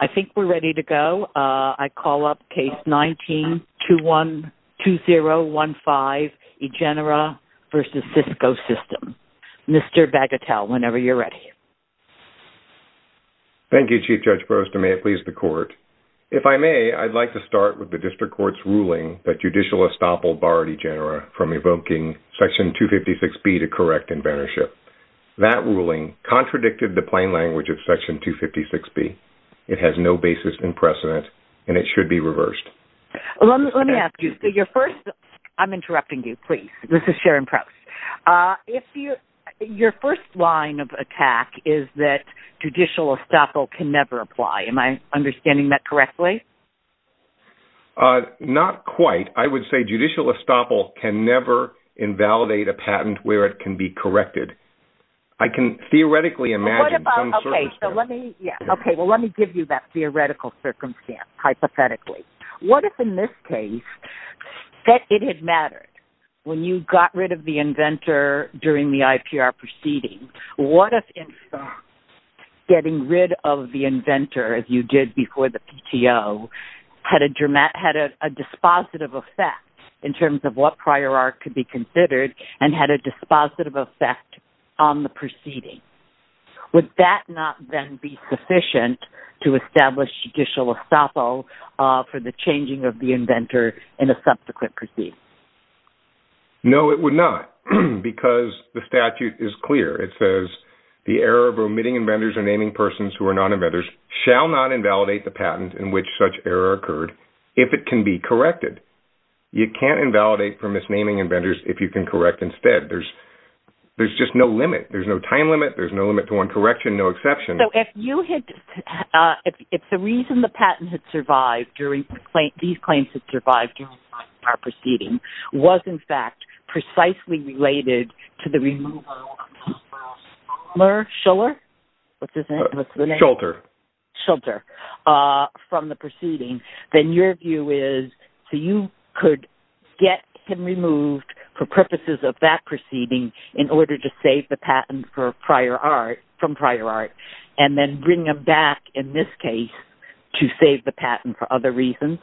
I think we're ready to go. I call up Case 19-2015, Egenera v. Cisco Systems. Mr. Bagatelle, whenever you're ready. Thank you, Chief Judge Brewster. May it please the Court. If I may, I'd like to start with the District Court's ruling that judicial estoppel barred Egenera from evoking Section 256B to correct inventorship. That ruling contradicted the plain language of Section 256B. It has no basis in precedent, and it should be reversed. Let me ask you, your first... I'm interrupting you, please. This is Sharon Prowse. Your first line of attack is that judicial estoppel can never apply. Am I understanding that correctly? Not quite. I would say judicial estoppel can never invalidate a patent where it can be corrected. I can theoretically imagine some circumstance... Okay, well let me give you that theoretical circumstance, hypothetically. What if, in this case, it had mattered when you got rid of the inventor during the IPR proceeding? What if getting rid of the inventor, as you did before the PTO, had a dispositive effect in terms of what prior art could be considered, and had a dispositive effect on the proceeding? Would that not then be sufficient to establish judicial estoppel for the changing of the inventor in a subsequent proceeding? No, it would not, because the statute is clear. It says, the error of omitting inventors or naming persons who are non-inventors shall not invalidate the patent in which such error occurred if it can be corrected. You can't invalidate for misnaming inventors if you can correct instead. There's just no limit. There's no time limit. There's no limit to one correction, no exception. If the reason the patent had survived, these claims had survived during the IPR proceeding, was in fact precisely related to the removal of Schuller from the proceeding, then your view is, you could get him removed for purposes of that proceeding in order to save the patent from prior art, and then bring him back, in this case, to save the patent for other reasons?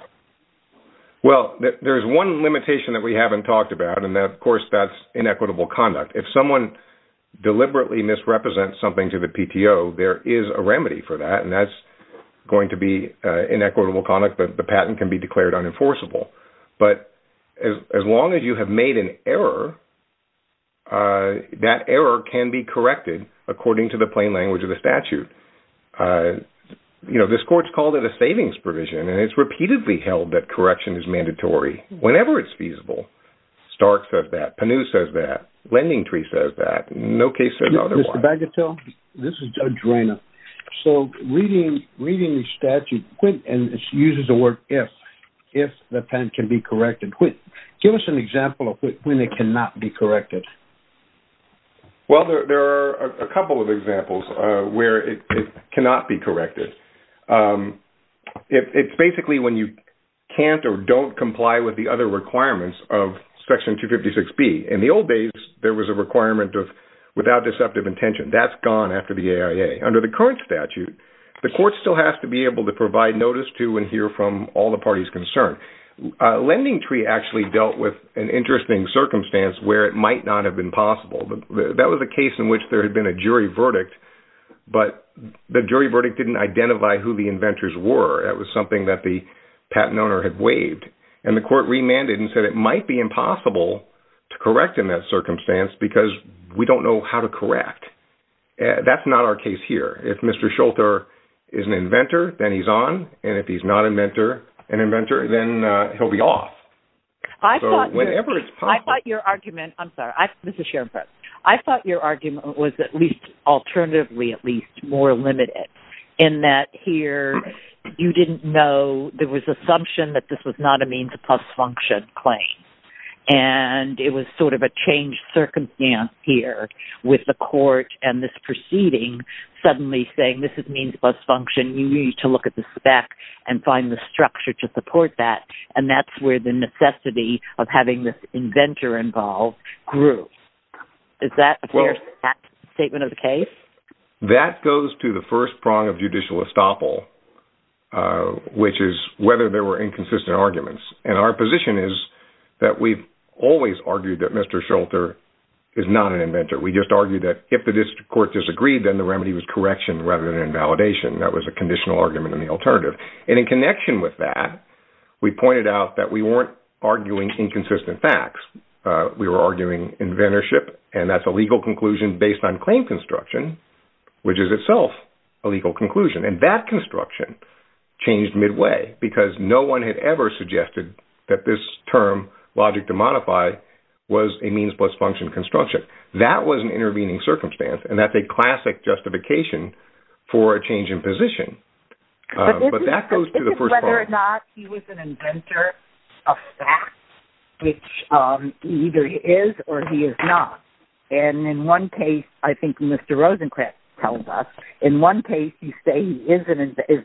Well, there's one limitation that we haven't talked about, and of course that's inequitable conduct. If someone deliberately misrepresents something to the PTO, there is a remedy for that, and that's going to be inequitable conduct. The patent can be declared unenforceable, but as long as you have made an error, that error can be corrected according to the plain language of the statute. This court's called it a savings provision, and it's repeatedly held that correction is mandatory whenever it's feasible. Stark says that. Panu says that. Lending Tree says that. No case says otherwise. Mr. Bagatelle, this is Judge Reina. So, reading the statute, and she uses the word if, if the patent can be corrected, give us an example of when it cannot be corrected. Well, there are a couple of examples where it cannot be corrected. It's basically when you can't or don't comply with the other requirements of Section 256B. In the old days, there was a requirement of without deceptive intention. That's gone after the AIA. Under the current statute, the court still has to be able to provide notice to and hear from all the parties concerned. Lending Tree actually dealt with an interesting circumstance where it might not have been possible. That was a case in which there had been a jury verdict, but the jury verdict didn't identify who the inventors were. It was something that the patent owner had waived, and the court remanded and said it might be impossible to correct in that circumstance because we don't know how to correct. That's not our case here. If Mr. Schulter is an inventor, then he's on, and if he's not an inventor, then he'll be off. I thought your argument was at least alternatively at least more limited in that here you didn't know there was assumption that this was not a means plus function claim. It was sort of a changed circumstance here with the court and this proceeding suddenly saying this is means plus function. You need to look at the spec and find the structure to support that, and that's where the necessity of having this inventor involved grew. Is that a fair statement of the case? That goes to the first prong of judicial estoppel, which is whether there were inconsistent arguments. Our position is that we've always argued that Mr. Schulter is not an inventor. We just argued that if the district court disagreed, then the remedy was correction rather than invalidation. That was a conditional argument in the alternative. In connection with that, we pointed out that we weren't arguing inconsistent facts. We were arguing inventorship, and that's a legal conclusion based on claim construction, which is itself a legal conclusion. That construction changed midway because no one had ever suggested that this term, logic to modify, was a means plus function construction. That was an intervening circumstance, and that's a classic justification for a change in position. But that goes to the first prong. It's whether or not he was an inventor of facts, which either he is or he is not. In one case, I think Mr. Rosencrantz told us, in one case you say he is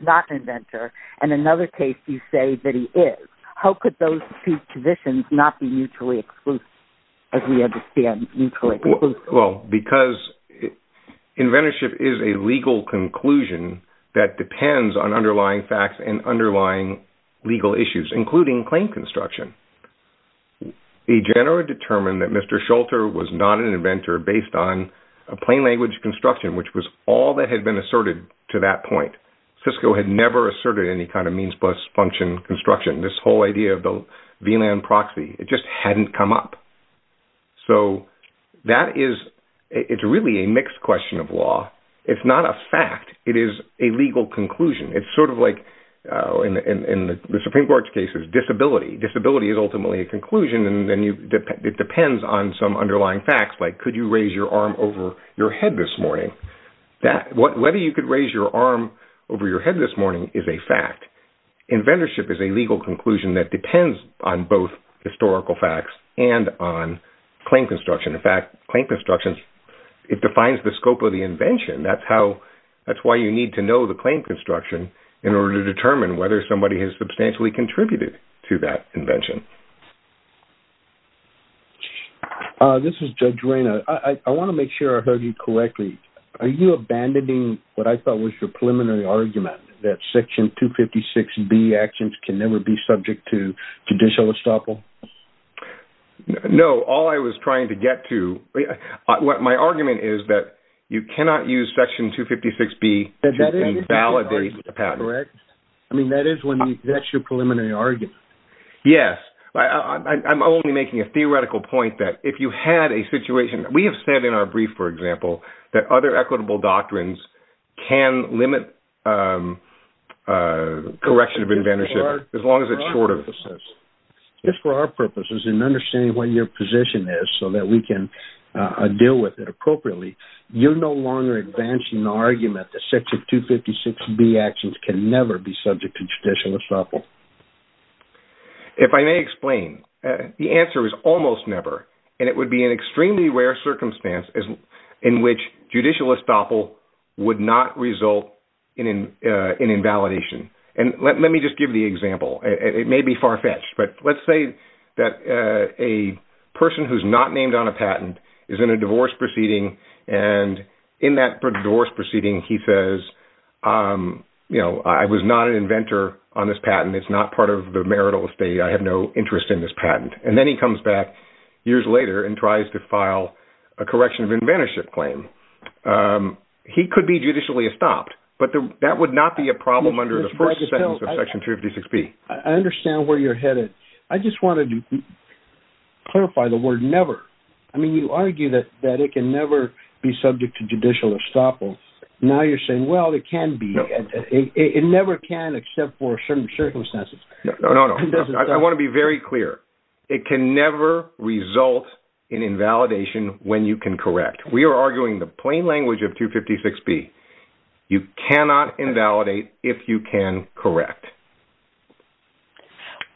not an inventor, and in another case you say that he is. How could those two positions not be mutually exclusive as we understand mutually exclusive? Well, because inventorship is a legal conclusion that depends on underlying facts and underlying legal issues, including claim construction. A genera determined that Mr. Schulter was not an inventor based on a plain language construction, which was all that had been asserted to that point. Cisco had never asserted any kind of means plus function construction. This whole idea of the VLAN proxy, it just hadn't come up. So that is, it's really a mixed question of law. It's not a fact. It is a legal conclusion. It's sort of like in the Supreme Court's cases, disability. Disability is ultimately a conclusion, and it depends on some underlying facts, like could you raise your arm over your head this morning? Whether you could raise your arm over your head this morning is a fact. In fact, inventorship is a legal conclusion that depends on both historical facts and on claim construction. In fact, claim construction, it defines the scope of the invention. That's how, that's why you need to know the claim construction in order to determine whether somebody has substantially contributed to that invention. This is Judge Reyna. I want to make sure I heard you correctly. Are you abandoning what I thought was your preliminary argument that Section 256B actions can never be subject to judicial estoppel? No. All I was trying to get to, my argument is that you cannot use Section 256B to invalidate a patent. I mean, that is when, that's your preliminary argument. Yes. I'm only making a theoretical point that if you had a situation, we have said in our brief, for example, that other equitable doctrines can limit correction of inventorship as long as it's short of... Just for our purposes and understanding what your position is so that we can deal with it appropriately, you're no longer advancing the argument that Section 256B actions can never be subject to judicial estoppel. If I may explain, the answer is almost never. And it would be an extremely rare circumstance in which judicial estoppel would not result in an invalidation. And let me just give the example. It may be far-fetched, but let's say that a person who's not named on a patent is in a divorce proceeding. And in that divorce proceeding, he says, you know, I was not an inventor on this patent. It's not part of the marital estate. I have no interest in this patent. And then he comes back years later and tries to file a correction of inventorship claim. He could be judicially estopped, but that would not be a problem under the first sentence of Section 256B. I understand where you're headed. I just wanted to clarify the word never. I mean, you argue that it can never be subject to judicial estoppel. Now you're saying, well, it can be. It never can except for certain circumstances. No, no, no. I want to be very clear. It can never result in invalidation when you can correct. We are arguing the plain language of 256B. You cannot invalidate if you can correct.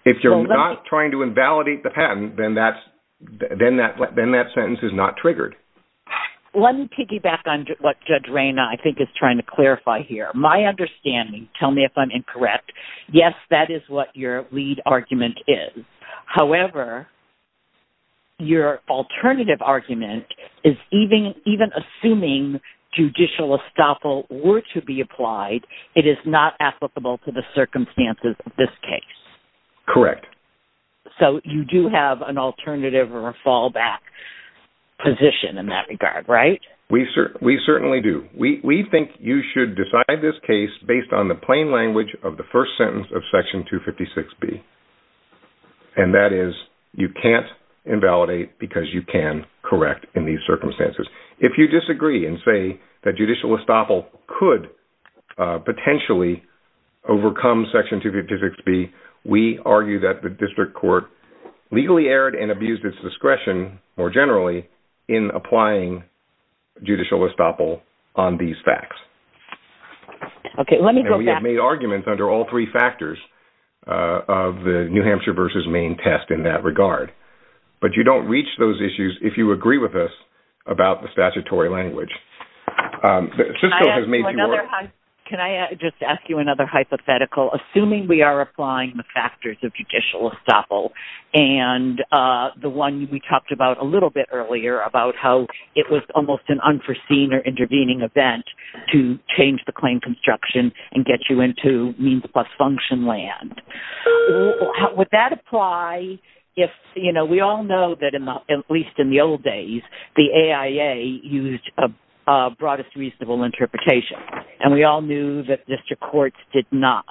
If you're not trying to invalidate the patent, then that sentence is not triggered. Let me piggyback on what Judge Rayna, I think, is trying to clarify here. My understanding, tell me if I'm incorrect. Yes, that is what your lead argument is. However, your alternative argument is even assuming judicial estoppel were to be applied, it is not applicable to the circumstances of this case. Correct. So you do have an alternative or a fallback position in that regard, right? We certainly do. We think you should decide this case based on the plain language of the first sentence of Section 256B. And that is you can't invalidate because you can correct in these circumstances. If you disagree and say that judicial estoppel could potentially overcome Section 256B, we argue that the district court legally erred and abused its discretion, more generally, in applying judicial estoppel on these facts. Okay, let me go back. And we have made arguments under all three factors of the New Hampshire versus Maine test in that regard. But you don't reach those issues if you agree with us about the statutory language. Can I just ask you another hypothetical? Assuming we are applying the factors of judicial estoppel and the one we talked about a little bit earlier about how it was almost an unforeseen or intervening event to change the claim construction and get you into means plus function land. Would that apply if, you know, we all know that in the, at least in the old days, the AIA used a broadest reasonable interpretation. And we all knew that district courts did not.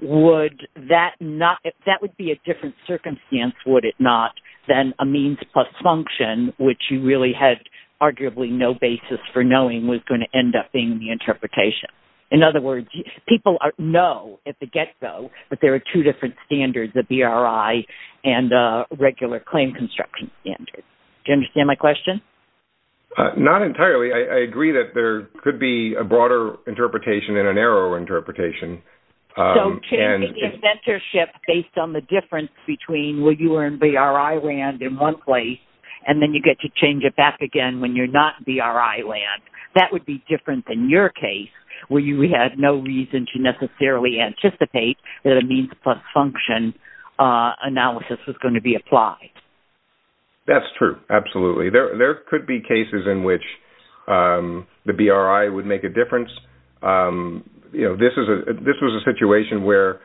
Would that not, that would be a different circumstance, would it not, than a means plus function which you really had arguably no basis for knowing was going to end up being the interpretation. In other words, people know at the get-go that there are two different standards, the BRI and regular claim construction standards. Do you understand my question? Not entirely. I agree that there could be a broader interpretation and a narrower interpretation. So changing the inventorship based on the difference between where you are in BRI land in one place and then you get to change it back again when you're not in BRI land, that would be different than your case. We had no reason to necessarily anticipate that a means plus function analysis was going to be applied. That's true, absolutely. There could be cases in which the BRI would make a difference. You know, this was a situation where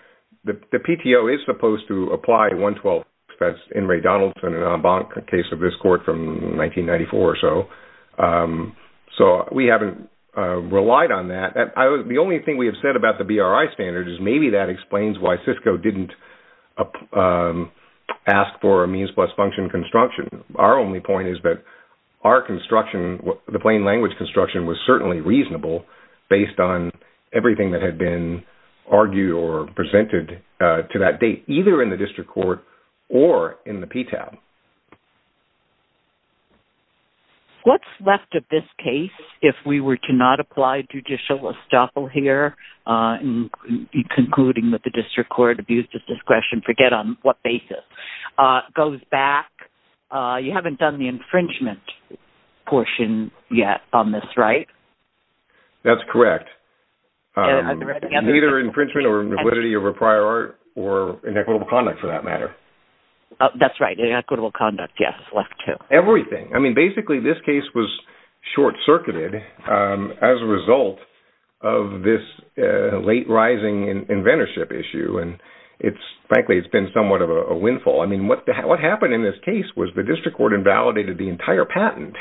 the PTO is supposed to apply 112, that's in Ray Donaldson and Embank, a case of this court from 1994 or so. So we haven't relied on that. The only thing we have said about the BRI standards is maybe that explains why Cisco didn't ask for a means plus function construction. Our only point is that our construction, the plain language construction was certainly reasonable based on everything that had been argued or presented to that date, either in the district court or in the PTAB. What's left of this case if we were to not apply judicial estoppel here in concluding that the district court abused its discretion, forget on what basis, goes back, you haven't done the infringement portion yet on this, right? That's correct. Either infringement or validity over prior art or inequitable conduct for that matter. That's right. Inequitable conduct, yes. Everything. I mean, basically this case was short-circuited as a result of this late rising inventorship issue. And frankly, it's been somewhat of a windfall. I mean, what happened in this case was the district court invalidated the entire patent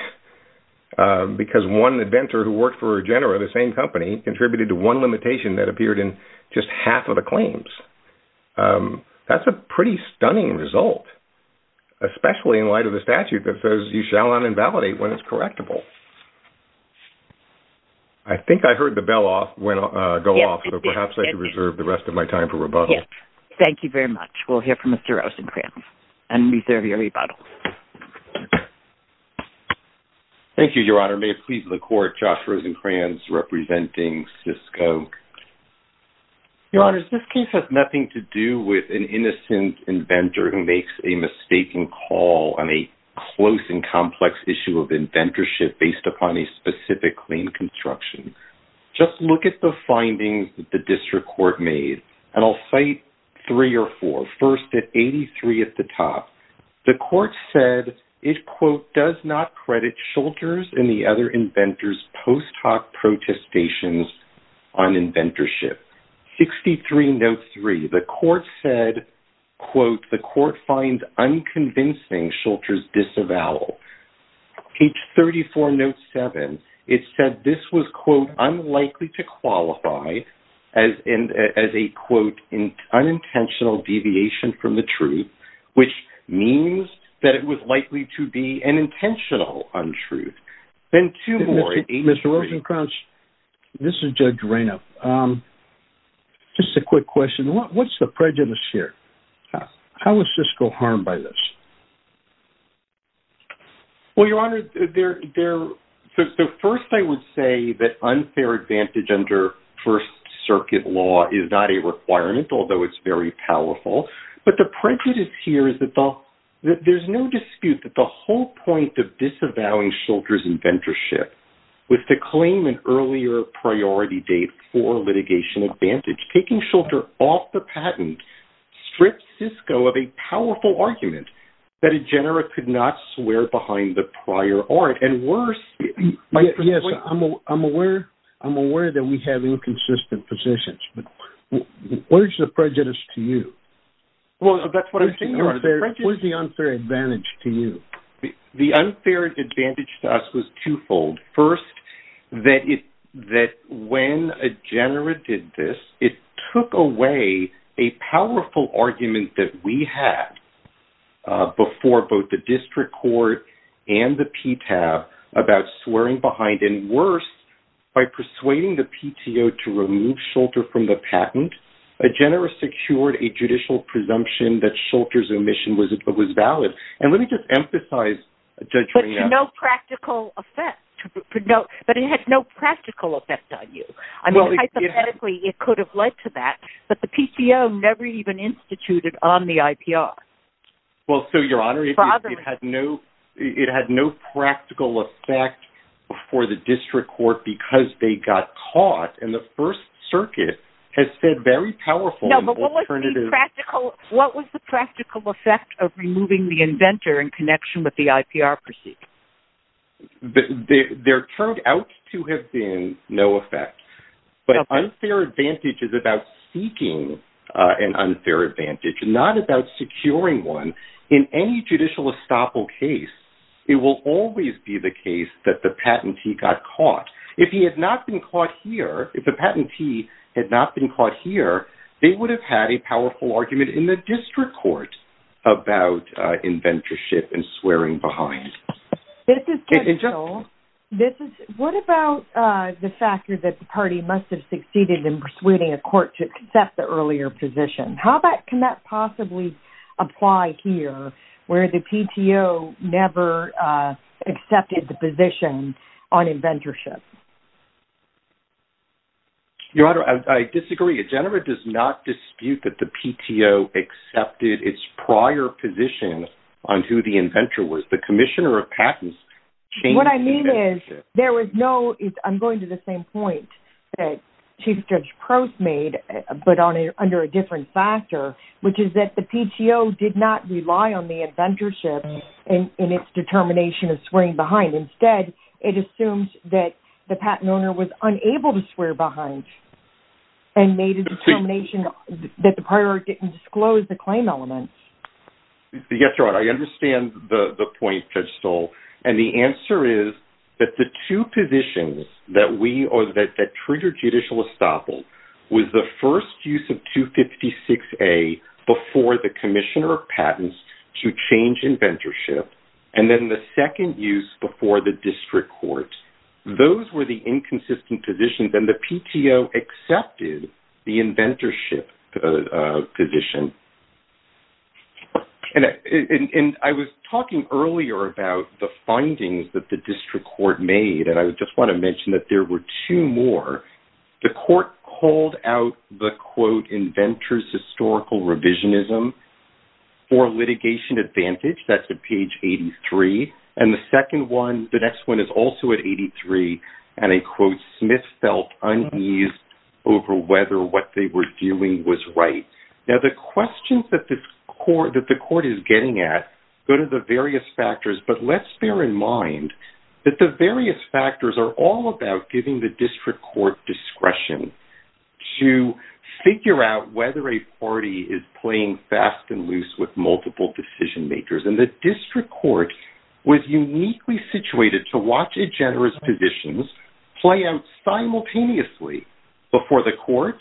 because one inventor who worked for Regenera, the same company, contributed to one limitation that appeared in just half of the claims. That's a pretty stunning result. Especially in light of the statute that says you shall not invalidate when it's correctable. I think I heard the bell go off, so perhaps I should reserve the rest of my time for rebuttal. Thank you very much. We'll hear from Mr. Rosencrantz and reserve your rebuttal. Thank you, Your Honor. May it please the court, Josh Rosencrantz representing Cisco. Your Honor, this case has nothing to do with an innocent inventor who makes a mistaken call on a close and complex issue of inventorship based upon a specific claim construction. Just look at the findings that the district court made, and I'll cite three or four. First, at 83 at the top, the court said it, quote, does not credit Schulter's and the other inventors' post hoc protestations on inventorship. 63, note 3, the court said, quote, the court finds unconvincing Schulter's disavowal. Page 34, note 7, it said this was, quote, unlikely to qualify as a, quote, unintentional deviation from the truth, which means that it was likely to be an intentional untruth. Then two more at 83. Mr. Rosencrantz, this is Judge Reynolds. Just a quick question. What's the prejudice here? How is Cisco harmed by this? Well, Your Honor, the first I would say that unfair advantage under First Circuit law is not a requirement, although it's very powerful. But the prejudice here is that there's no dispute that the whole point of disavowing Schulter's inventorship was to claim an earlier priority date for litigation advantage. Taking Schulter off the patent strips Cisco of a powerful argument that a genera could not swear behind the prior art. And worse... Yes, I'm aware that we have inconsistent positions, but where's the prejudice to you? Well, that's what I'm saying, Your Honor. Where's the unfair advantage to you? The unfair advantage to us was twofold. First, that when a genera did this, it took away a powerful argument that we had before both the district court and the PTAB about swearing behind, and worse, by persuading the PTO to remove Schulter from the patent, a genera secured a judicial presumption that Schulter's omission was valid. And let me just emphasize... But to no practical effect. But it had no practical effect on you. I mean, hypothetically, it could have led to that, but the PTO never even instituted on the IPR. Well, so, Your Honor, it had no practical effect for the district court because they got caught, and the First Circuit has said very powerful... No, but what was the practical effect of removing the inventor in connection with the IPR proceed? There turned out to have been no effect. But unfair advantage is about seeking an unfair advantage, not about securing one. In any judicial estoppel case, it will always be the case that the patentee got caught. If he had not been caught here, if the patentee had not been caught here, they would have had a powerful argument in the district court about inventorship and swearing behind. This is general. What about the factor that the party must have succeeded in persuading a court to accept the earlier position? How can that possibly apply here, where the PTO never accepted the position on inventorship? Your Honor, I disagree. Jennifer does not dispute that the PTO accepted its prior position on who the inventor was. The commissioner of patents... What I mean is, there was no... I'm going to the same point that Chief Judge Crouse made, but under a different factor, which is that the PTO did not rely on the inventorship in its determination of swearing behind. Instead, it assumes that the patent owner was unable to swear behind and made a determination that the prior didn't disclose the claim elements. Yes, Your Honor. I understand the point Judge Stoll, and the answer is that the two positions that triggered judicial estoppel was the first use of 256A before the commissioner of patents to change inventorship, and then the second use before the district court. Those were the inconsistent positions, and the PTO accepted the inventorship position. And I was talking earlier about the findings that the district court made, and I just want to mention that there were two more. The court called out the, quote, inventor's historical revisionism for litigation advantage. That's at page 83. And the second one, the next one, is also at 83, and I quote, Smith felt unease over whether what they were doing was right. Now, the questions that the court is getting at go to the various factors, but let's bear in mind that the various factors are all about giving the district court discretion to figure out whether a party is playing fast and loose with multiple decision makers. And the district court was uniquely situated to watch a generous positions play out simultaneously before the court,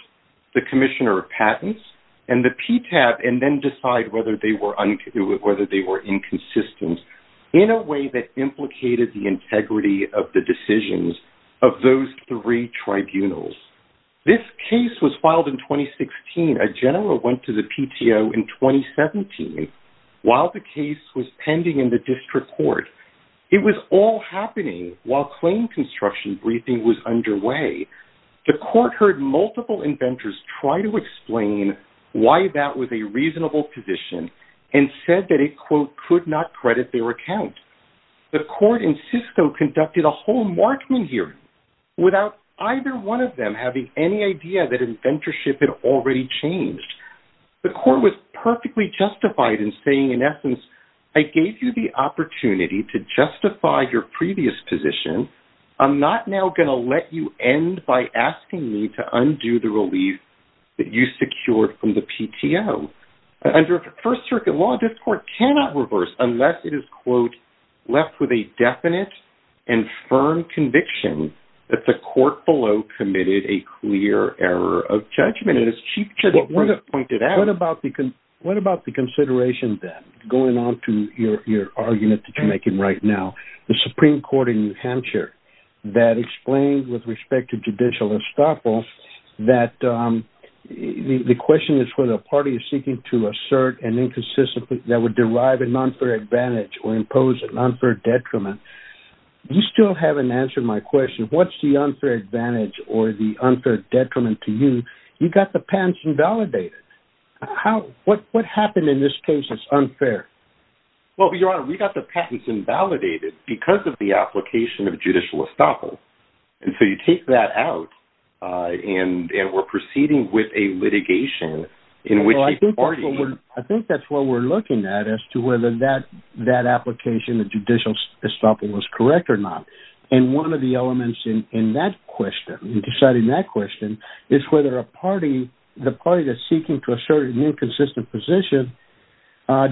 the commissioner of patents, and the PTAP, and then decide whether they were inconsistent in a way that implicated the integrity of the decisions of those three tribunals. This case was filed in 2016. A general went to the PTO in 2017 while the case was pending in the district court. It was all happening while claim construction briefing was underway. The court heard multiple inventors try to explain why that was a reasonable position and said that it, quote, could not credit their account. The court in Cisco conducted a whole Markman hearing without either one of them having any idea that inventorship had already changed. The court was perfectly justified in saying, in essence, I gave you the opportunity to justify your previous position. I'm not now going to let you end by asking me to undo the relief that you secured from the PTO. Under first circuit law, this court cannot reverse unless it is, quote, left with a definite and firm conviction that the court below committed a clear error of judgment. And as Chief Justice Brooks pointed out... What about the consideration, then, going on to your argument that you're making right now, the Supreme Court in New Hampshire that explained, with respect to judicial estoppel, that the question is whether a party is seeking that would derive an unfair advantage or impose an unfair detriment. You still haven't answered my question. What's the unfair advantage or the unfair detriment to you? You got the patents invalidated. What happened in this case is unfair? Well, Your Honor, we got the patents invalidated because of the application of judicial estoppel. And so you take that out and we're proceeding with a litigation in which a party... I think that's what we're looking at as to whether that application of judicial estoppel was correct or not. And one of the elements in that question, in deciding that question, is whether a party, the party that's seeking to assert an inconsistent position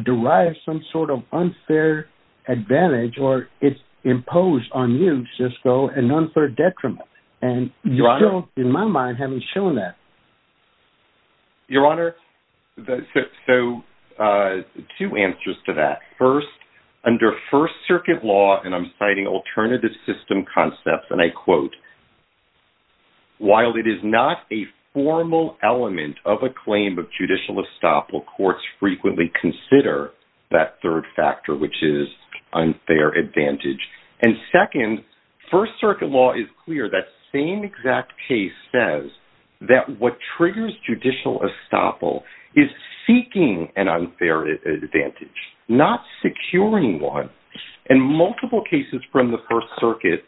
derives some sort of unfair advantage or it's imposed on you, Cisco, an unfair detriment. And you still, in my mind, haven't shown that. Your Honor, I have two answers to that. First, under First Circuit law, and I'm citing alternative system concepts, and I quote, while it is not a formal element of a claim of judicial estoppel, courts frequently consider that third factor, which is unfair advantage. And second, First Circuit law is clear. That same exact case says that what triggers judicial estoppel is seeking an unfair advantage, not securing one. And multiple cases from the First Circuit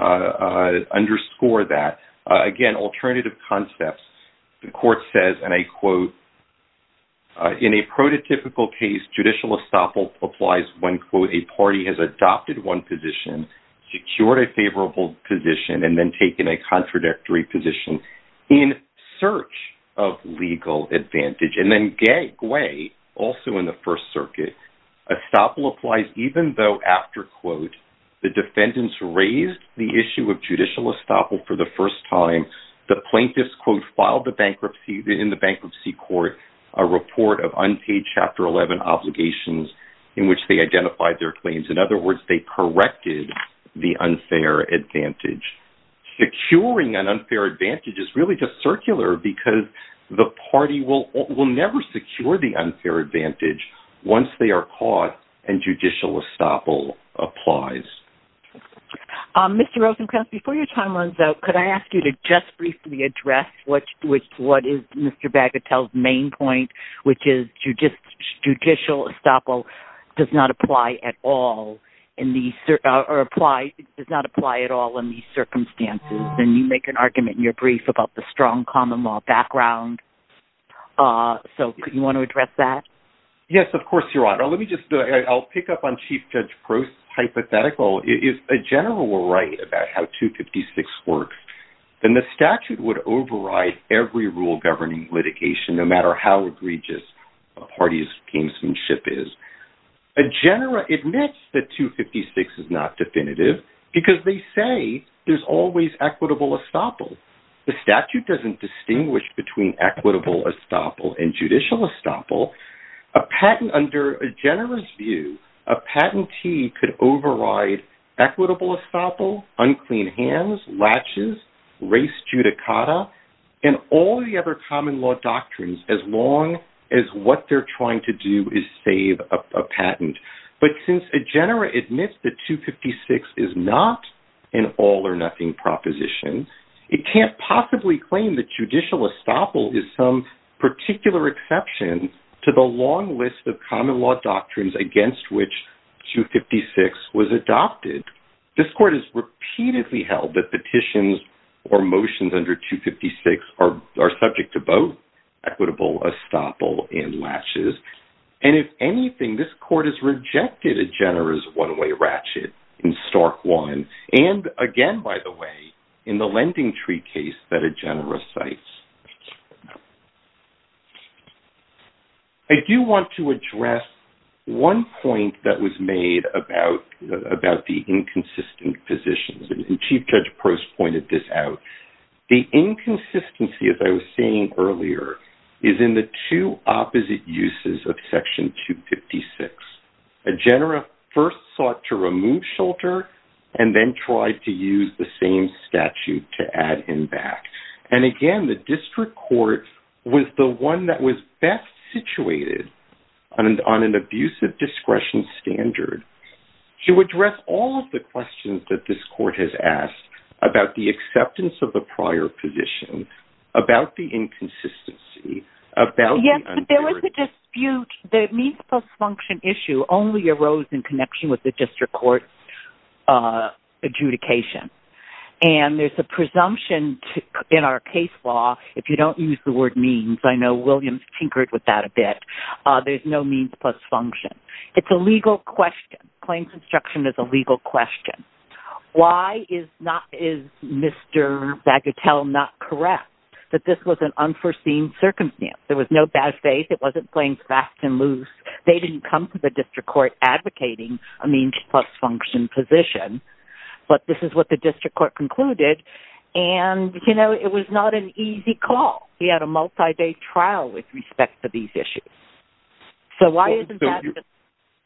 underscore that. Again, alternative concepts. The court says, and I quote, in a prototypical case, judicial estoppel applies when, quote, a party has adopted one position, secured a favorable position, and then taken a contradictory position in search of legal advantage. And then gateway, also in the First Circuit, estoppel applies even though, after, quote, the defendants raised the issue of judicial estoppel for the first time, the plaintiffs, quote, filed in the bankruptcy court a report of unpaid Chapter 11 obligations in which they identified their claims. In other words, they corrected the unfair advantage. Securing an unfair advantage is really just circular because the party will never secure the unfair advantage once they are caught and judicial estoppel applies. Mr. Rosenkranz, before your time runs out, could I ask you to just briefly address what is Mr. Bagatelle's main point, which is judicial estoppel does not apply at all in these, or apply, does not apply at all in these circumstances. And you make an argument in your brief about the strong common law background. So, could you want to address that? Yes, of course, Your Honor. Let me just, I'll pick up on Chief Judge Prost's hypothetical. If a general were right about how 256 works, then the statute would override every rule governing litigation no matter how egregious a party's gamesmanship is. A general admits that 256 is not definitive because they say there's always equitable estoppel. The statute doesn't distinguish between equitable estoppel and judicial estoppel. A patent under a general's view, a patentee could override equitable estoppel, unclean hands, laches, race judicata, and all the other common law doctrines as long as what they're trying to do is save a patent. But since a general admits that 256 is not an all-or-nothing proposition, it can't possibly claim that judicial estoppel is some particular exception to the long list of common law doctrines against which 256 was adopted. This Court has repeatedly held that petitions or motions under 256 are subject to both equitable estoppel and laches. And if anything, this Court has rejected a generous one-way ratchet in Stark 1. And again, by the way, in the lending tree case that a general recites. I do want to address one point that was made about the inconsistent positions. And Chief Judge Post pointed this out. The inconsistency, as I was saying earlier, is in the two opposite uses of Section 256. A general first sought to remove Shulter and then tried to use the same statute to add him back. And again, the District Court was the one that was best situated on an abusive discretion standard to address all of the questions that this Court has asked about the acceptance of the prior position, about the inconsistency, about the unfairity. The means plus function issue only arose in connection with the District Court's adjudication. And there's a presumption in our case law, if you don't use the word means, I know Williams tinkered with that a bit, there's no means plus function. It's a legal question. Claims obstruction is a legal question. Why is Mr. Bagatelle not correct that this was an unforeseen circumstance? There was no bad faith. It wasn't playing fast and loose. They didn't come to the District Court advocating a means plus function position. But this is what the District Court concluded. And, you know, it was not an easy call. We had a multi-day trial with respect to these issues. So why isn't that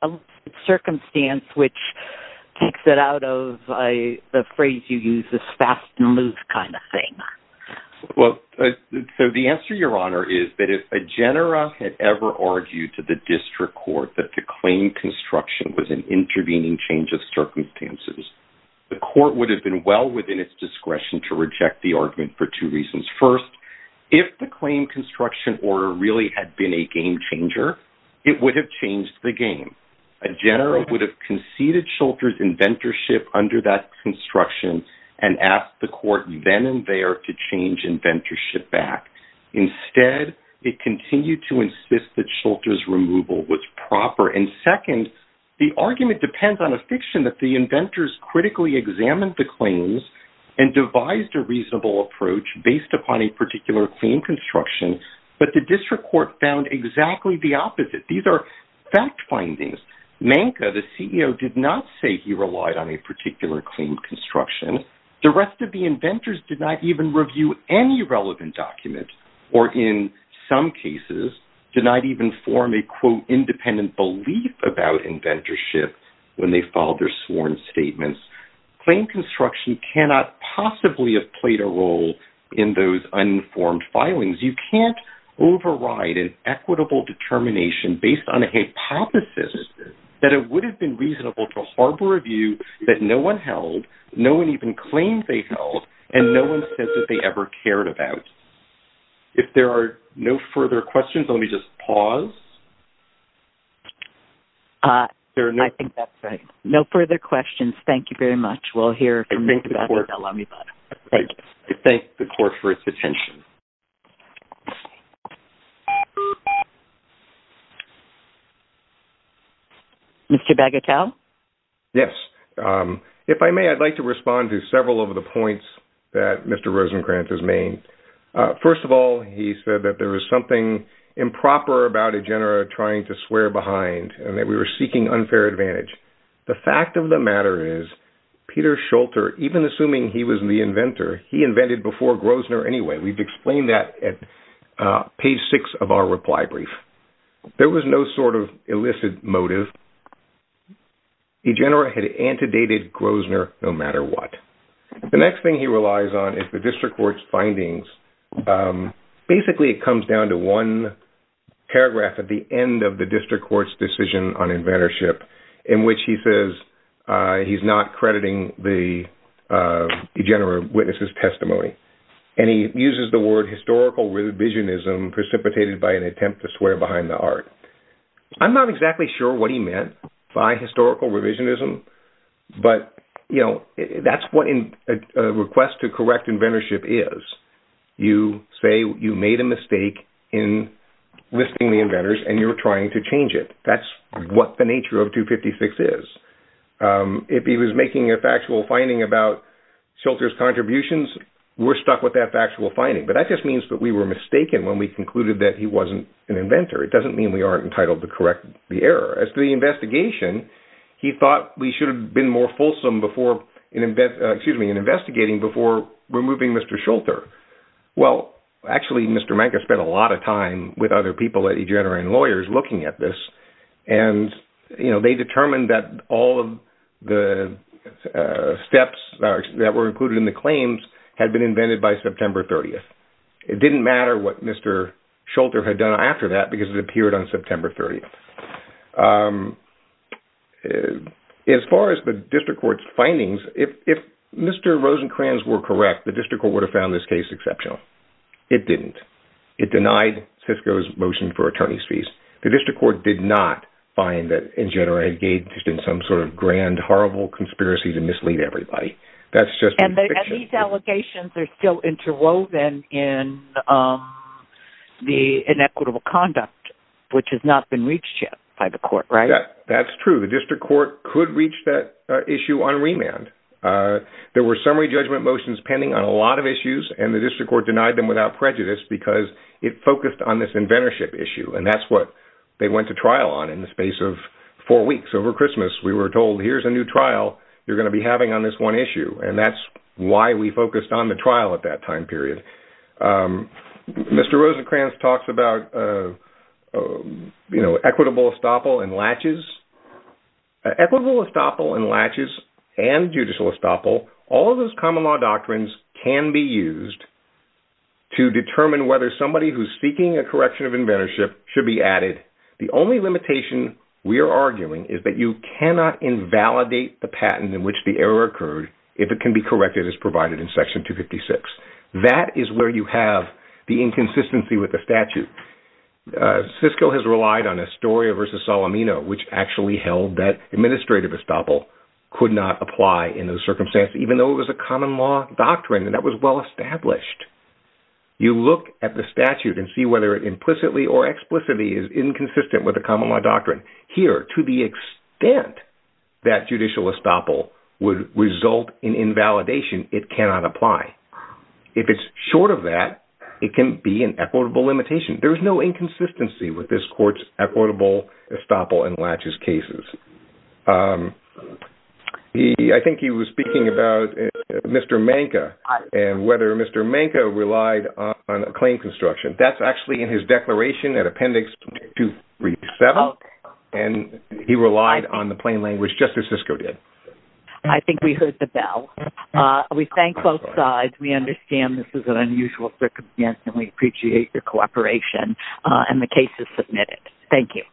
a circumstance which takes it out of the phrase you use, this fast and loose kind of thing? Well, so the answer, Your Honor, is that if a genera had ever argued to the District Court that the claim construction was an intervening change of circumstances, the court would have been well within its discretion to reject the argument for two reasons. First, if the claim construction order really had been a game changer, it would have changed the game. A genera would have conceded Schulter's inventorship under that construction and asked the court then and there to change inventorship back. Instead, it continued to insist that Schulter's removal was proper. And second, the argument depends on a fiction that the inventors critically examined the claims and devised a reasonable approach based upon a particular claim construction, but the District Court found exactly the opposite. These are fact findings. Manka, the CEO, did not say he relied on a particular claim construction. The rest of the inventors did not even review any relevant documents or, in some cases, did not even form a, quote, independent belief about inventorship when they filed their sworn statements. Claim construction cannot possibly have played a role in those uninformed filings. You can't override an equitable determination based on a hypothesis that it would have been reasonable to harbor a view that no one held, no one even claimed they held, and no one said that they ever cared about. If there are no further questions, let me just pause. I think that's it. No further questions. Thank you very much. We'll hear from you at the bell on your button. I thank the court for its attention. Mr. Bagatelle? Yes. If I may, I'd like to respond to several of the points that Mr. Rosenkranz has made. First of all, he said that there was something improper about Igenera trying to swear behind and that we were seeking unfair advantage. The fact of the matter is, Peter Shulter, even assuming he was the inventor, he invented before Groszner anyway. We've explained that at page six of our reply brief. There was no sort of illicit motive. Igenera had antedated Groszner no matter what. The next thing he relies on is the district court's findings. Basically, it comes down to one paragraph at the end of the district court's decision on inventorship in which he says he's not crediting the Igenera witnesses' testimony. He uses the word historical revisionism precipitated by an attempt to swear behind the art. I'm not exactly sure what he meant by historical revisionism, but that's what a request to correct inventorship is. You say you made a mistake in listing the inventors and you're trying to change it. That's what the nature of 256 is. If he was making a factual finding about Shulter's contributions, we're stuck with that factual finding, but that just means that we were mistaken when we concluded that he wasn't an inventor. It doesn't mean we aren't entitled to correct the error. As to the investigation, he thought we should have been more fulsome in investigating before removing Mr. Shulter. Well, actually, Mr. Menke spent a lot of time with other people at Igenera and lawyers looking at this, and they determined that all of the steps that were included in the claims had been invented by September 30th. It didn't matter what Mr. Shulter had done after that because it appeared on September 30th. As far as the district court's findings, if Mr. Rosenkranz were correct, the district court would have found this case exceptional. It didn't. It denied Cisco's motion for attorney's fees. The district court did not find that Igenera engaged in some sort of grand, horrible conspiracy to mislead everybody. That's just in fiction. And these allegations are still interwoven in the inequitable conduct, which has not been reached yet by the court, right? That's true. The district court could reach that issue on remand. There were summary judgment motions pending on a lot of issues, and the district court denied them without prejudice because it focused on this inventorship issue, and that's what they went to trial on in the space of four weeks over Christmas. We were told, here's a new trial you're going to be having on this one issue, and that's why we focused on the trial at that time period. Mr. Rosenkranz talks about, you know, equitable estoppel and latches. Equitable estoppel and latches and judicial estoppel, all of those common law doctrines can be used to determine whether somebody who's seeking a correction of inventorship should be added. The only limitation we are arguing is that you cannot invalidate the patent in which the error occurred if it can be corrected as provided in section 256. That is where you have the inconsistency with the statute. Cisco has relied on Astoria versus Salomino, which actually held that administrative estoppel could not apply in those circumstances, even though it was a common law doctrine and that was well established. You look at the statute and see whether it implicitly or explicitly is inconsistent with the common law doctrine. Here, to the extent that judicial estoppel would result in invalidation, it cannot apply. If it's short of that, it can be an equitable limitation. There's no inconsistency with this court's equitable estoppel and Latch's cases. I think he was speaking about Mr. Manka and whether Mr. Manka relied on a claim construction. That's actually in his declaration at appendix 237. He relied on the plain language, just as Cisco did. I think we heard the bell. We thank both sides. We understand this is an unusual circumstance. We appreciate your cooperation. The case is submitted. Thank you.